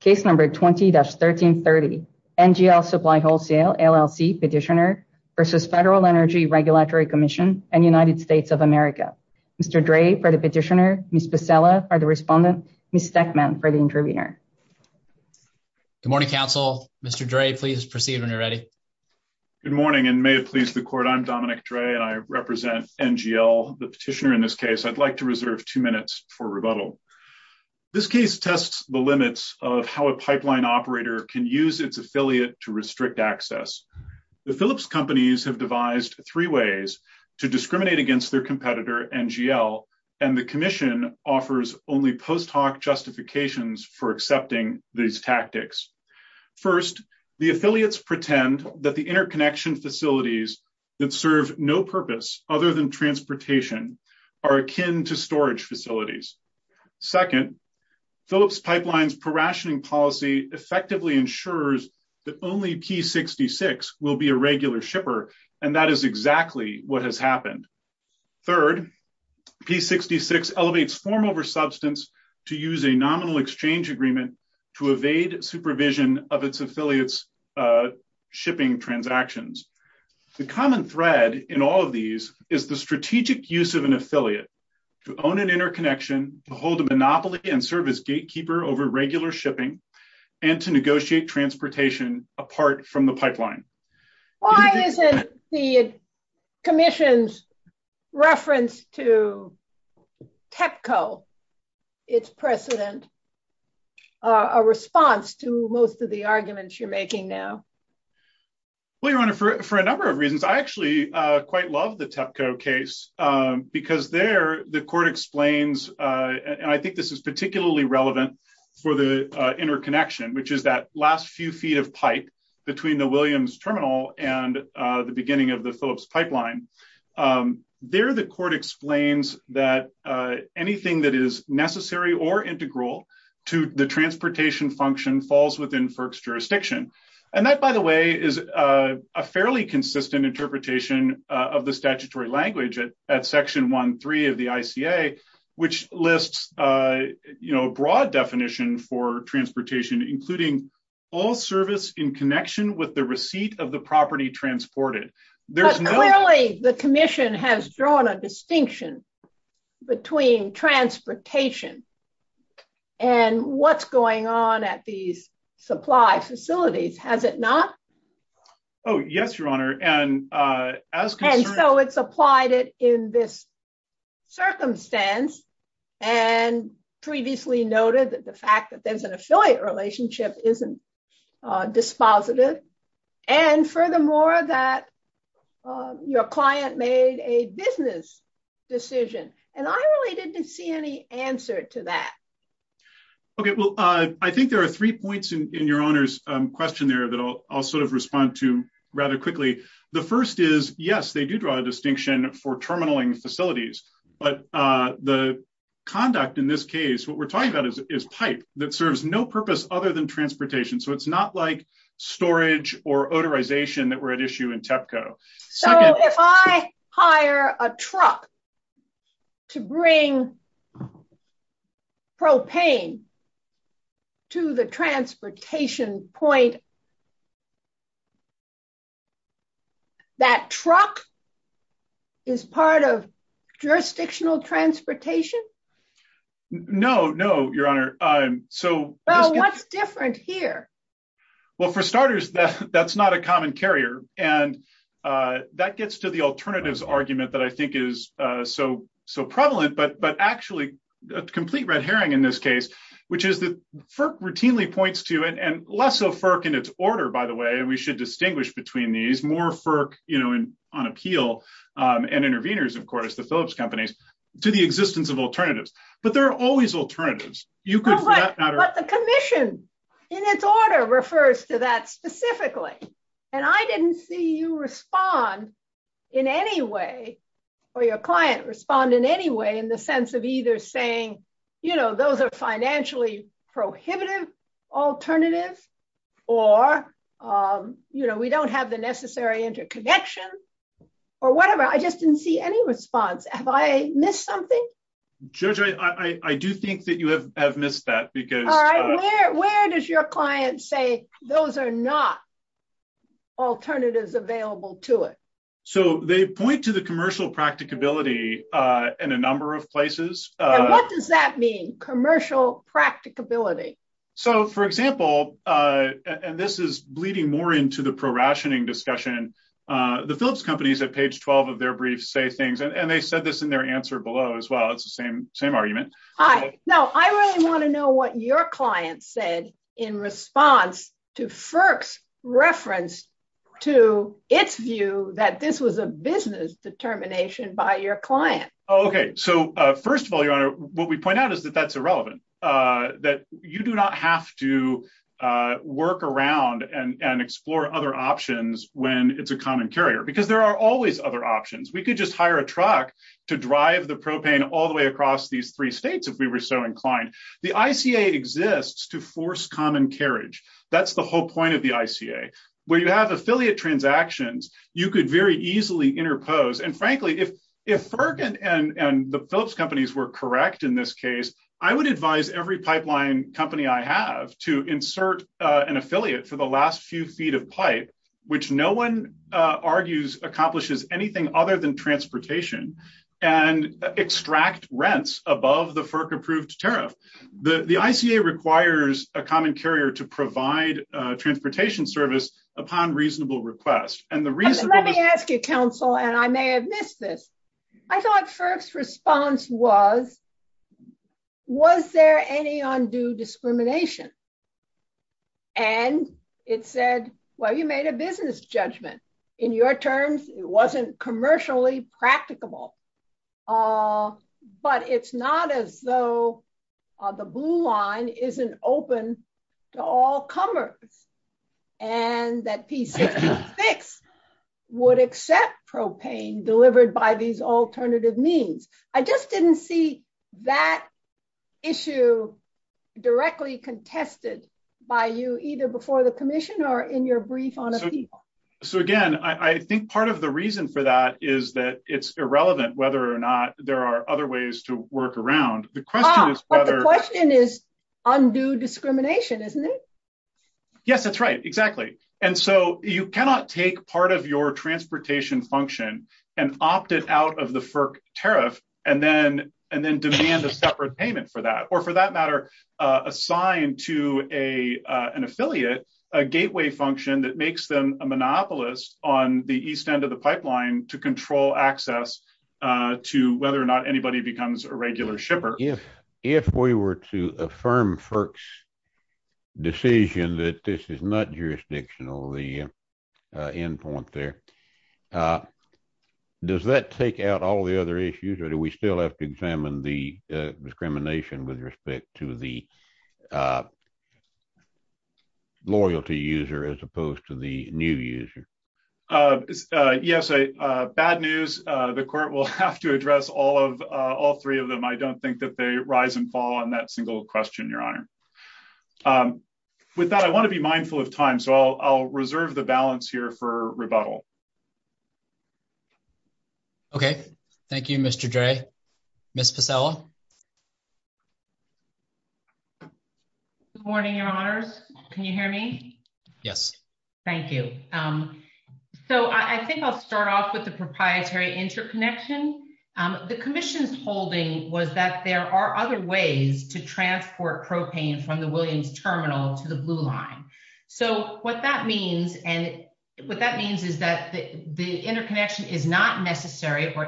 Case number 20-1330, NGL Supply Wholesale, LLC petitioner versus Federal Energy Regulatory Commission and United States of America. Mr. Dre for the petitioner, Ms. Becela for the respondent, Ms. Stekman for the interviewer. Good morning, counsel. Mr. Dre, please proceed when you're ready. Good morning and may it please the court, I'm Dominic Dre and I represent NGL, the petitioner in this case. I'd like to reserve two minutes for rebuttal. This case tests the limits of how a pipeline operator can use its affiliate to restrict access. The Phillips companies have devised three ways to discriminate against their competitor, NGL, and the commission offers only post hoc justifications for accepting these tactics. First, the affiliates pretend that the interconnection facilities that serve no purpose other than transportation are akin to storage facilities. Second, Phillips Pipeline's prorationing policy effectively ensures that only P66 will be a regular shipper and that is exactly what has happened. Third, P66 elevates form over substance to use a nominal exchange agreement to evade supervision of its affiliates' shipping transactions. The common thread in all of these is the strategic use of an affiliate to own an interconnection, to hold a monopoly and service gatekeeper over regular shipping, and to negotiate transportation apart from the pipeline. Why isn't the commission's reference to TEPCO, its precedent, a response to most of the arguments you're making now? Well, Your Honor, for a number of reasons. I actually quite love the TEPCO case because there the court explains, and I think this is particularly relevant for the interconnection, which is that last few feet of pipe between the Williams Terminal and the beginning of the Phillips Pipeline. There the court explains that anything that is necessary or integral to the transportation function falls within FERC's jurisdiction. And that, by the way, is a fairly consistent interpretation of the statutory language at Section 1.3 of the ICA, which lists a receipt of the property transported. But clearly the commission has drawn a distinction between transportation and what's going on at these supply facilities, has it not? Oh, yes, Your Honor. And so it's applied it in this circumstance and previously noted that fact that there's an affiliate relationship isn't dispositive. And furthermore, that your client made a business decision, and I really didn't see any answer to that. Okay, well, I think there are three points in Your Honor's question there that I'll sort of respond to rather quickly. The first is, yes, they do draw a distinction for terminaling facilities, but the conduct in this case, what we're talking about is pipe that serves no purpose other than transportation. So it's not like storage or odorization that were at issue in TEPCO. So if I hire a truck to bring propane to the transportation point, is that truck is part of jurisdictional transportation? No, no, Your Honor. Well, what's different here? Well, for starters, that's not a common carrier. And that gets to the alternatives argument that I think is so prevalent, but actually a complete red herring in this case, which is that FERC routinely points to it and less so FERC in its order, by the way, we should distinguish between these more FERC, you know, on appeal, and intervenors, of course, the Phillips companies to the existence of alternatives, but there are always alternatives. You could, but the commission in its order refers to that specifically. And I didn't see you respond in any way, or your client respond in any way in the sense of either saying, you know, those are financially prohibitive, alternative, or, you know, we don't have the necessary interconnection, or whatever. I just didn't see any response. Have I missed something? Judge, I do think that you have missed that, because... All right, where does your client say those are not alternatives available to it? So they point to the commercial practicability in a number of places. What does that mean, commercial practicability? So for example, and this is bleeding more into the prorationing discussion, the Phillips companies at page 12 of their brief say things, and they said this in their answer below as well. It's the same argument. All right. Now, I really want to know what your client said in response to FERC's reference to its view that this was a business determination by your client. Oh, okay. So first of all, Your Honor, what we point out is that that's irrelevant, that you do not have to work around and explore other options when it's a common carrier, because there are always other options. We could just hire a truck to drive the propane all the way across these three states if we were so inclined. The ICA exists to force common carriage. That's the whole point of the ICA. Where you have affiliate transactions, you could very easily interpose. And frankly, if FERC and the Phillips companies were correct in this case, I would advise every pipeline company I have to insert an affiliate for the last few feet of pipe, which no one argues accomplishes anything other than transportation, and extract rents above the FERC approved tariff. The ICA requires a common carrier to provide transportation service upon reasonable request. Let me ask you, counsel, and I may have missed this. I thought FERC's response was, was there any undue discrimination? And it said, well, you made a business judgment. In your terms, it wasn't commercially practicable. But it's not as though the blue line isn't open to all comers. And that P66 would accept propane delivered by these alternative means. I just didn't see that issue directly contested by you either before the commission or in your brief on appeal. So again, I think part of the reason for is that it's irrelevant whether or not there are other ways to work around. The question is whether the question is undue discrimination, isn't it? Yes, that's right. Exactly. And so you cannot take part of your transportation function, and opted out of the FERC tariff, and then and then demand a separate payment for that, or for that matter, assigned to a, an affiliate, a gateway function that makes them a monopolist on the east end of the pipeline to control access to whether or not anybody becomes a regular shipper. If, if we were to affirm FERC's decision that this is not jurisdictional, the end point there, does that take out all the other issues? Or do we still have to new user? Yes, bad news. The court will have to address all of all three of them. I don't think that they rise and fall on that single question, Your Honor. With that, I want to be mindful of time. So I'll reserve the balance here for rebuttal. Okay, thank you, Mr. Dre. Miss Pasella. Good morning, Your Honors. Can you hear me? Yes. Thank you. So I think I'll start off with the proprietary interconnection. The Commission's holding was that there are other ways to transport propane from the Williams Terminal to the Blue Line. So what that means, and what that means is that there are other ways to transport propane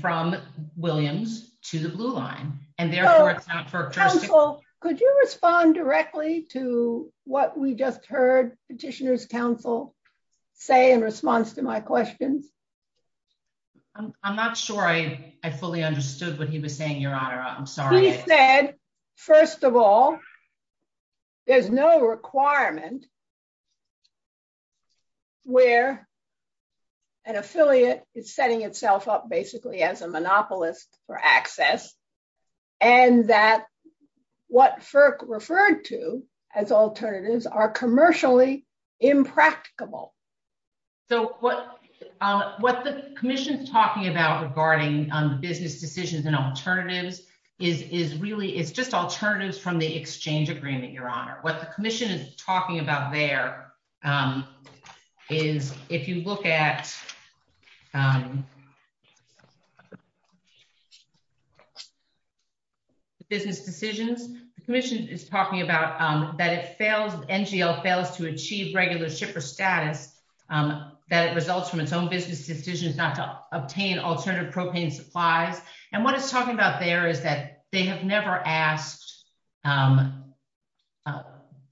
from Williams to the Blue Line. And therefore it's not for... Counsel, could you respond directly to what we just heard Petitioner's Counsel say in response to my questions? I'm not sure I fully understood what he was saying, Your Honor. I'm sorry. He said, first of all, there's no requirement where an affiliate is setting itself up basically as a monopolist for access, and that what FERC referred to as alternatives are commercially impracticable. So what the Commission's talking about regarding business decisions and alternatives is really, it's just alternatives from the exchange agreement, Your Honor. What the Commission is talking about there is if you look at business decisions, the Commission is talking about that it fails, NGL fails to achieve regular shipper status, that it results from its own business decisions not to obtain alternative supplies. And what it's talking about there is that they have never asked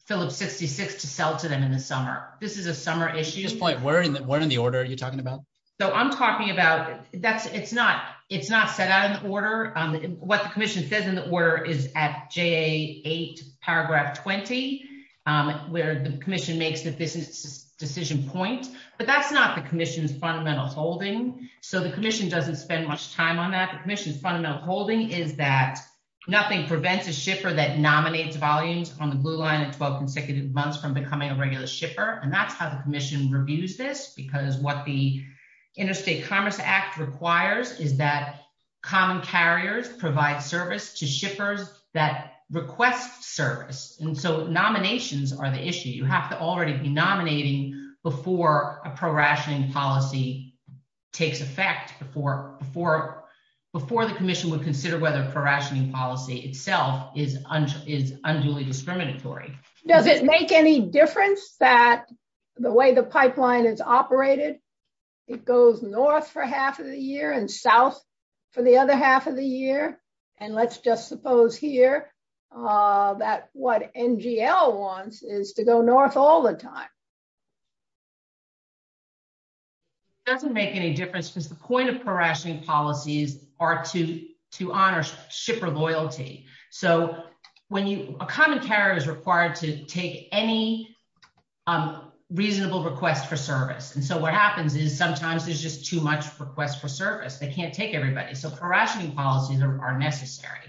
Phillips 66 to sell to them in the summer. This is a summer issue. At this point, where in the order are you talking about? So I'm talking about, it's not set out in the order. What the Commission says in the order is at JA8 paragraph 20, where the Commission makes the business decision point. But that's not the time on that. The Commission's fundamental holding is that nothing prevents a shipper that nominates volumes on the blue line at 12 consecutive months from becoming a regular shipper. And that's how the Commission reviews this, because what the Interstate Commerce Act requires is that common carriers provide service to shippers that request service. And so nominations are the issue. You have to already be nominating before a prorationing policy takes effect before the Commission would consider whether prorationing policy itself is unduly discriminatory. Does it make any difference that the way the pipeline is operated, it goes north for half of the year and south for the other half of the year? And let's just suppose here that what NGL wants is to go north all the time. It doesn't make any difference because the point of prorationing policies are to honor shipper loyalty. So a common carrier is required to take any reasonable request for service. And so what happens is sometimes there's just too much request for service. They can't take everybody. So prorationing policies are necessary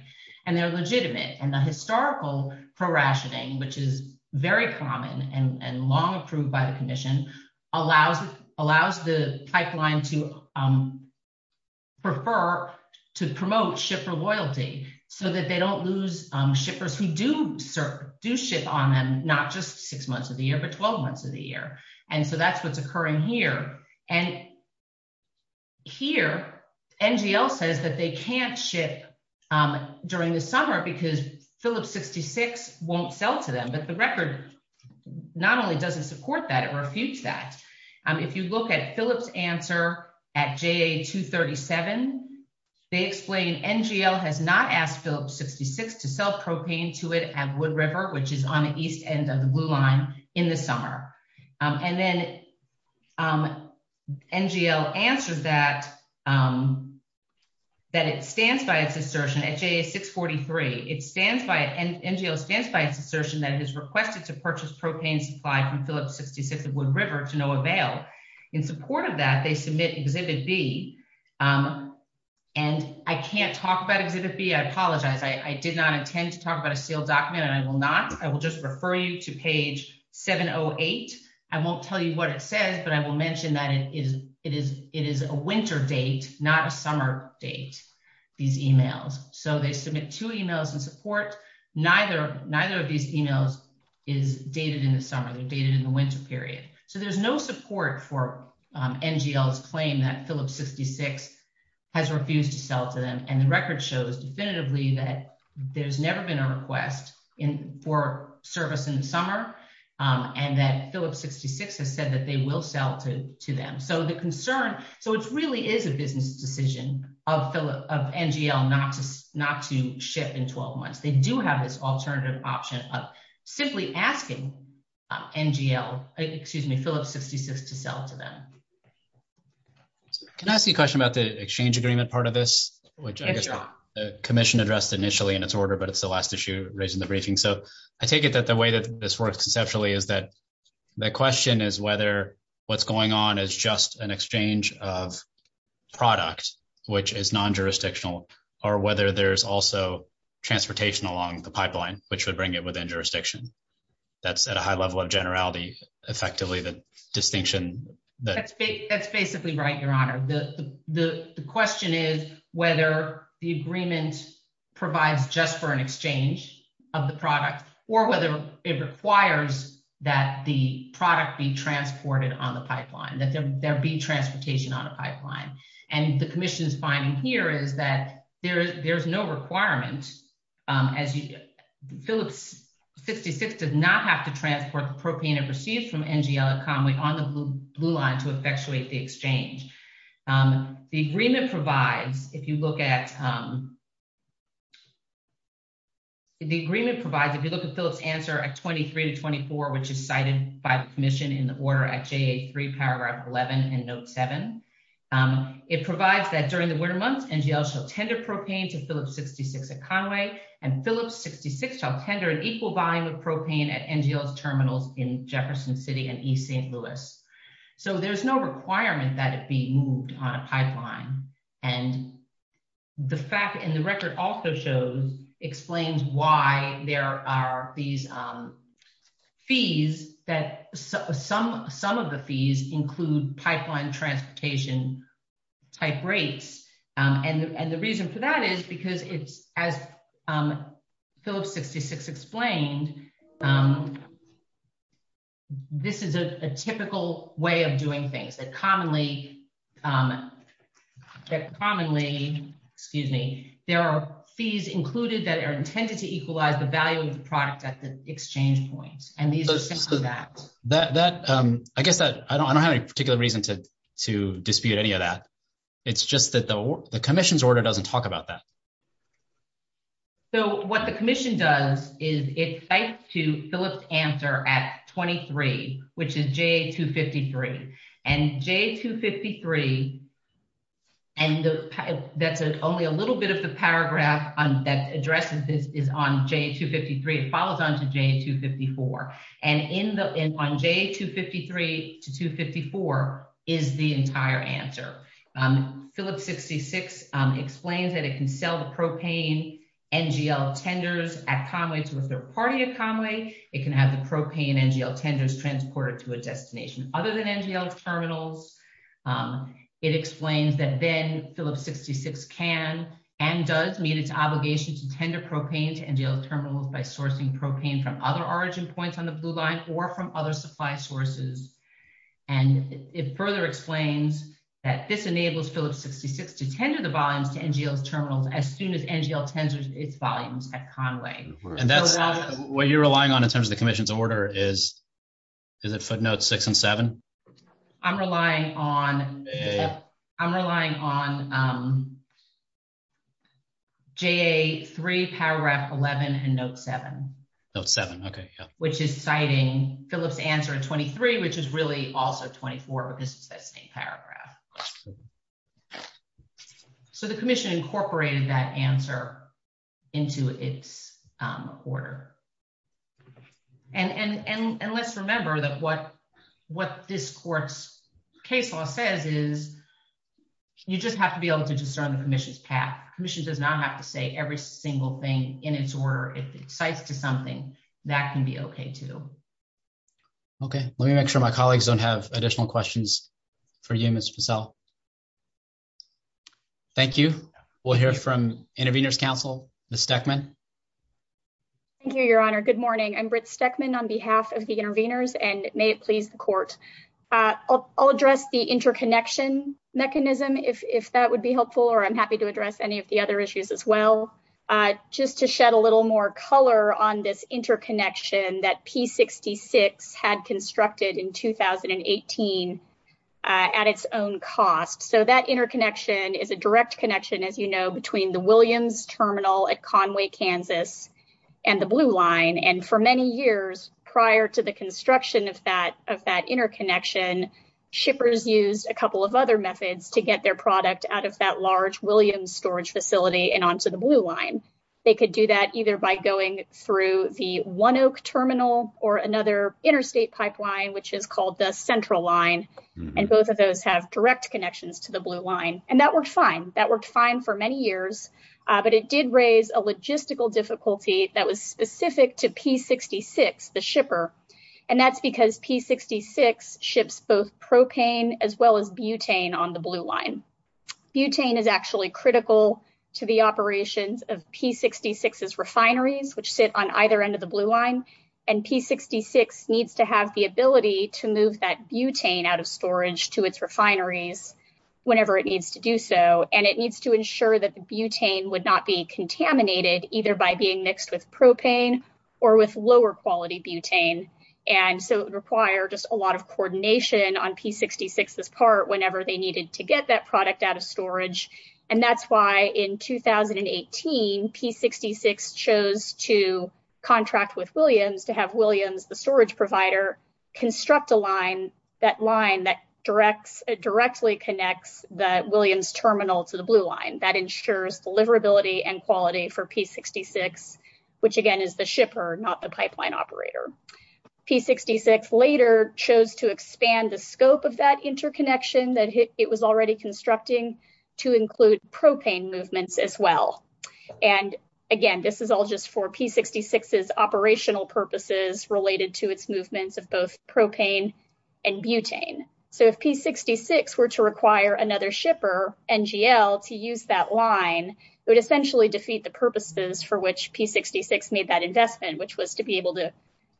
and they're legitimate. And the historical prorationing, which is very common and long approved by the Commission, allows the pipeline to prefer to promote shipper loyalty so that they don't lose shippers who do ship on them, not just six months of the year, but 12 months of the year. And so that's what's occurring here. And here, NGL says that they can't ship during the summer because Phillips 66 won't sell to them. But the record not only doesn't support that, it refutes that. If you look at Phillips answer at JA 237, they explain NGL has not asked Phillips 66 to sell propane to it at Wood River, which is on the east end of the blue line in the summer. And then NGL answers that it stands by its assertion at JA 643. NGL stands by its assertion that it has requested to purchase propane supplied from Phillips 66 at Wood River to no avail. In support of that, they submit Exhibit B. And I can't talk about Exhibit B. I apologize. I did not intend to talk about a sealed document and I will not. I will just refer you to page 708. I won't tell you what it says, but I will mention that it is a winter date, not a summer date, these emails. So they submit two emails in support. Neither of these emails is dated in the summer. They're dated in the winter period. So there's no support for NGL's claim that Phillips 66 has refused to sell to them. And record shows definitively that there's never been a request for service in the summer and that Phillips 66 has said that they will sell to them. So the concern, so it really is a business decision of NGL not to ship in 12 months. They do have this alternative option of simply asking NGL, excuse me, Phillips 66 to sell to them. Can I ask you a question about the exchange agreement part of this, which I guess the commission addressed initially in its order, but it's the last issue raised in the briefing. So I take it that the way that this works conceptually is that the question is whether what's going on is just an exchange of product, which is non-jurisdictional, or whether there's also transportation along the pipeline, which would bring it within jurisdiction. That's at a high level of generality, effectively, the distinction. That's basically right, Your Honor. The question is whether the agreement provides just for an exchange of the product or whether it requires that the product be transported on the pipeline, that there be transportation on a pipeline. And the commission's finding here is that there's no requirement as Phillips 66 does not have to receive from NGL at Conway on the blue line to effectuate the exchange. The agreement provides, if you look at, the agreement provides, if you look at Phillips answer at 23 to 24, which is cited by the commission in the order at JA3 paragraph 11 and note seven, it provides that during the winter months, NGL shall tender propane to Phillips 66 at Conway, and Phillips 66 shall tender an equal volume of propane at NGL's terminals in Jefferson City and East St. Louis. So there's no requirement that it be moved on a pipeline. And the fact, and the record also shows, explains why there are these fees that some of the fees include pipeline transportation type rates. And the reason for that is because it's, as Phillips 66 explained, this is a typical way of doing things that commonly, that commonly, excuse me, there are fees included that are intended to equalize the value of the product at the to, to dispute any of that. It's just that the commission's order doesn't talk about that. So what the commission does is it cites to Phillips answer at 23, which is JA253. And JA253, and that's only a little bit of the paragraph that addresses this is on JA253, it follows on to JA254. And in the, on JA253 to 254 is the entire answer. Phillips 66 explains that it can sell the propane NGL tenders at Conway to a third party at Conway, it can have the propane NGL tenders transported to a destination other than NGL terminals. It explains that then Phillips 66 can and does meet its obligation to tender propane to NGL terminals by sourcing propane from other origin points on the blue line or from other supply sources. And it further explains that this enables Phillips 66 to tender the volumes to NGL terminals as soon as NGL tenders its volumes at Conway. And that's what you're relying on in terms of the commission's order is it footnotes six and seven? I'm relying on, I'm relying on JA3 paragraph 11 and note seven. Note seven, okay. Which is citing Phillips answer at 23, which is really also 24, but this is that same paragraph. So the commission incorporated that answer into its order. And, and, and, and let's remember what this court's case law says is you just have to be able to discern the commission's path. Commission does not have to say every single thing in its order. If it cites to something that can be okay too. Okay. Let me make sure my colleagues don't have additional questions for you, Ms. Fussell. Thank you. We'll hear from intervenors council, Ms. Stechmann. Thank you, your honor. Good morning. I'm Britt Stechmann on behalf of the intervenors may it please the court. I'll address the interconnection mechanism if that would be helpful or I'm happy to address any of the other issues as well. Just to shed a little more color on this interconnection that P66 had constructed in 2018 at its own cost. So that interconnection is a direct connection, as you know, between the Williams terminal at Conway, Kansas and the blue line. And for many years prior to the construction of that, of that interconnection, shippers used a couple of other methods to get their product out of that large Williams storage facility and onto the blue line. They could do that either by going through the one Oak terminal or another interstate pipeline, which is called the central line. And both of those have direct connections to the blue line. And that worked fine. That worked fine for many years, but it did raise a logistical difficulty that was specific to P66, the shipper. And that's because P66 ships both propane as well as butane on the blue line. Butane is actually critical to the operations of P66's refineries, which sit on either end of the blue line. And P66 needs to have the ability to move that butane out of storage to its refineries whenever it needs to do so. And it needs to ensure that the butane would not be contaminated either by being mixed with propane or with lower quality butane. And so it would require just a lot of coordination on P66's part whenever they needed to get that product out of storage. And that's why in 2018, P66 chose to contract with Williams to have Williams, the storage provider, construct a line, that line that directly connects the deliverability and quality for P66, which again is the shipper, not the pipeline operator. P66 later chose to expand the scope of that interconnection that it was already constructing to include propane movements as well. And again, this is all just for P66's operational purposes related to its movements of both propane and butane. So if P66 were to require another shipper, NGL, to use that line, it would essentially defeat the purposes for which P66 made that investment, which was to be able to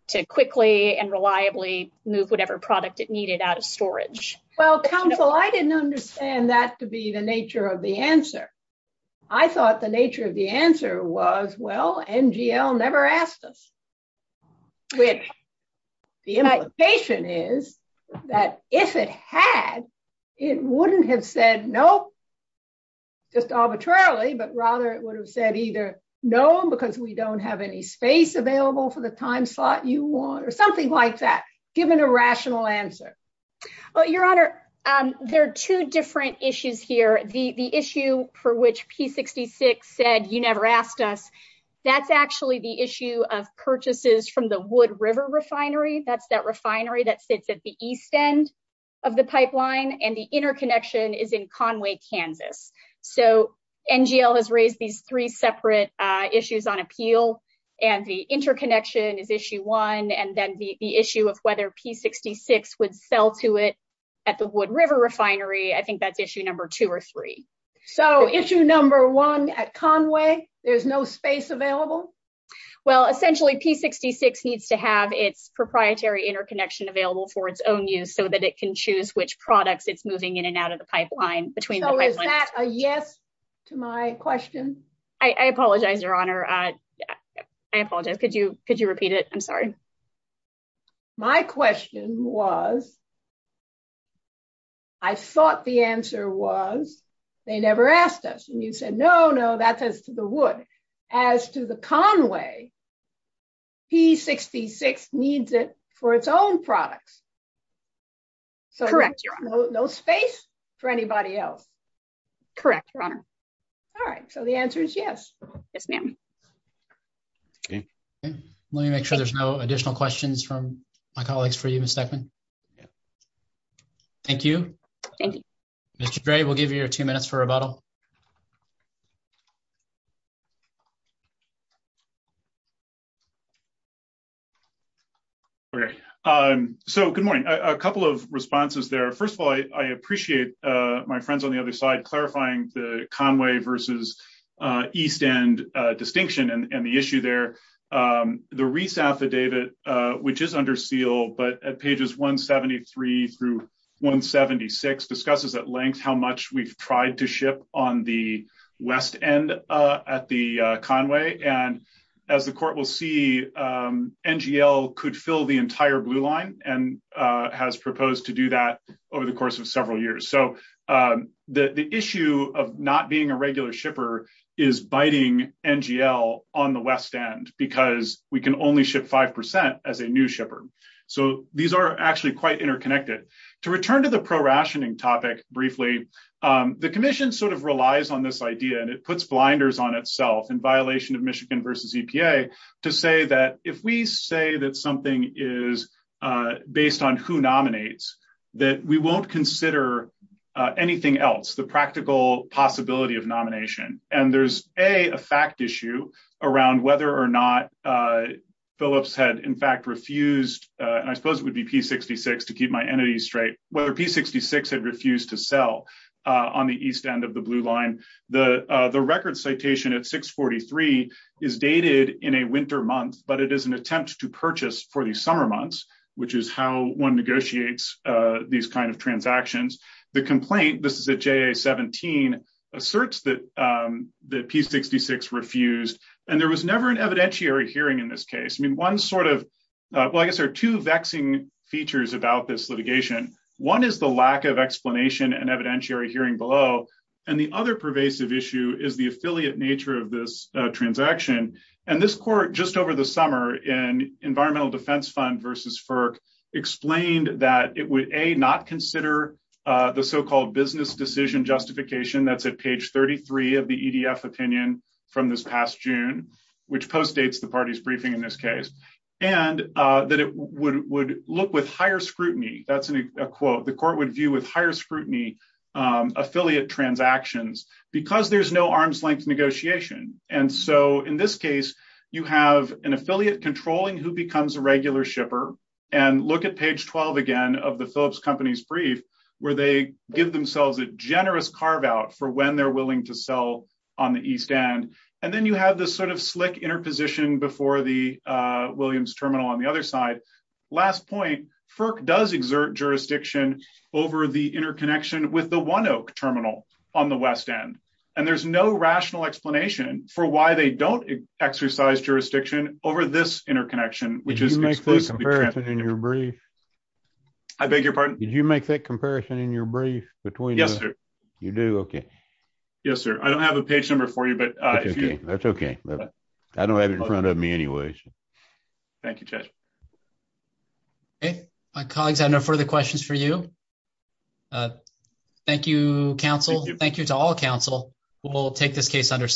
to quickly and reliably move whatever product it needed out of storage. Well, counsel, I didn't understand that to be the nature of the answer. I thought the nature of the answer was, well, NGL never asked us. The implication is that if it had, it wouldn't have said no, just arbitrarily, but rather it would have said either no, because we don't have any space available for the time slot you want, or something like that, given a rational answer. Well, your honor, there are two different issues here. The issue for which P66 said you never asked us, that's actually the issue of purchases from the Wood River refinery. That's refinery that sits at the east end of the pipeline, and the interconnection is in Conway, Kansas. So NGL has raised these three separate issues on appeal, and the interconnection is issue one, and then the issue of whether P66 would sell to it at the Wood River refinery, I think that's issue number two or three. So issue number one at Conway, there's no space available? Well, essentially, P66 needs to have its proprietary interconnection available for its own use, so that it can choose which products it's moving in and out of the pipeline. So is that a yes to my question? I apologize, your honor. I apologize. Could you could you repeat it? I'm sorry. My question was, I thought the answer was, they never asked us, and you said, no, no, that's as to the Wood. As to the Conway, P66 needs it for its own products. So no space for anybody else? Correct, your honor. All right, so the answer is yes. Yes, ma'am. Let me make sure there's no additional questions from my colleagues for you, Ms. Deckman. Thank you. Thank you. Mr. Dre, we'll give you your two minutes for rebuttal. Okay, so good morning. A couple of responses there. First of all, I appreciate my friends on the other side clarifying the Conway versus East End distinction and the issue there. The Reese affidavit, which is under seal, but at pages 173 through 176, discusses at length how we've tried to ship on the West End at the Conway. And as the court will see, NGL could fill the entire blue line and has proposed to do that over the course of several years. So the issue of not being a regular shipper is biting NGL on the West End because we can only ship 5% as a new shipper. So these are actually quite interconnected. To return to the prorationing topic briefly, the commission sort of relies on this idea, and it puts blinders on itself in violation of Michigan versus EPA to say that if we say that something is based on who nominates, that we won't consider anything else, the practical possibility of nomination. And there's a fact issue around whether or not Phillips had in fact refused, and I suppose it would be P-66 to keep my entity straight, whether P-66 had refused to sell on the East End of the blue line. The record citation at 643 is dated in a winter month, but it is an attempt to purchase for the summer months, which is how one negotiates these kinds of transactions. The complaint, this is at JA-17, asserts that P-66 refused. And there was never an Well, I guess there are two vexing features about this litigation. One is the lack of explanation and evidentiary hearing below. And the other pervasive issue is the affiliate nature of this transaction. And this court just over the summer in Environmental Defense Fund versus FERC explained that it would A, not consider the so-called business decision justification that's at page 33 of the EDF opinion from this past June, which postdates the party's briefing in this case. And that it would look with higher scrutiny. That's a quote the court would view with higher scrutiny affiliate transactions because there's no arm's length negotiation. And so in this case, you have an affiliate controlling who becomes a regular shipper and look at page 12 again of the Phillips Company's brief where they give themselves a generous carve out for when they're willing to Williams Terminal on the other side. Last point, FERC does exert jurisdiction over the interconnection with the One Oak Terminal on the West End. And there's no rational explanation for why they don't exercise jurisdiction over this interconnection, which is exclusively transferred in your brief. I beg your pardon? Did you make that comparison in your brief between? Yes, sir. You do? Okay. Yes, sir. I don't have a page number for you. But that's okay. I don't have it in front of me anyways. Thank you. Okay, my colleagues, I know further questions for you. Thank you, counsel. Thank you to all counsel. We'll take this case under submission.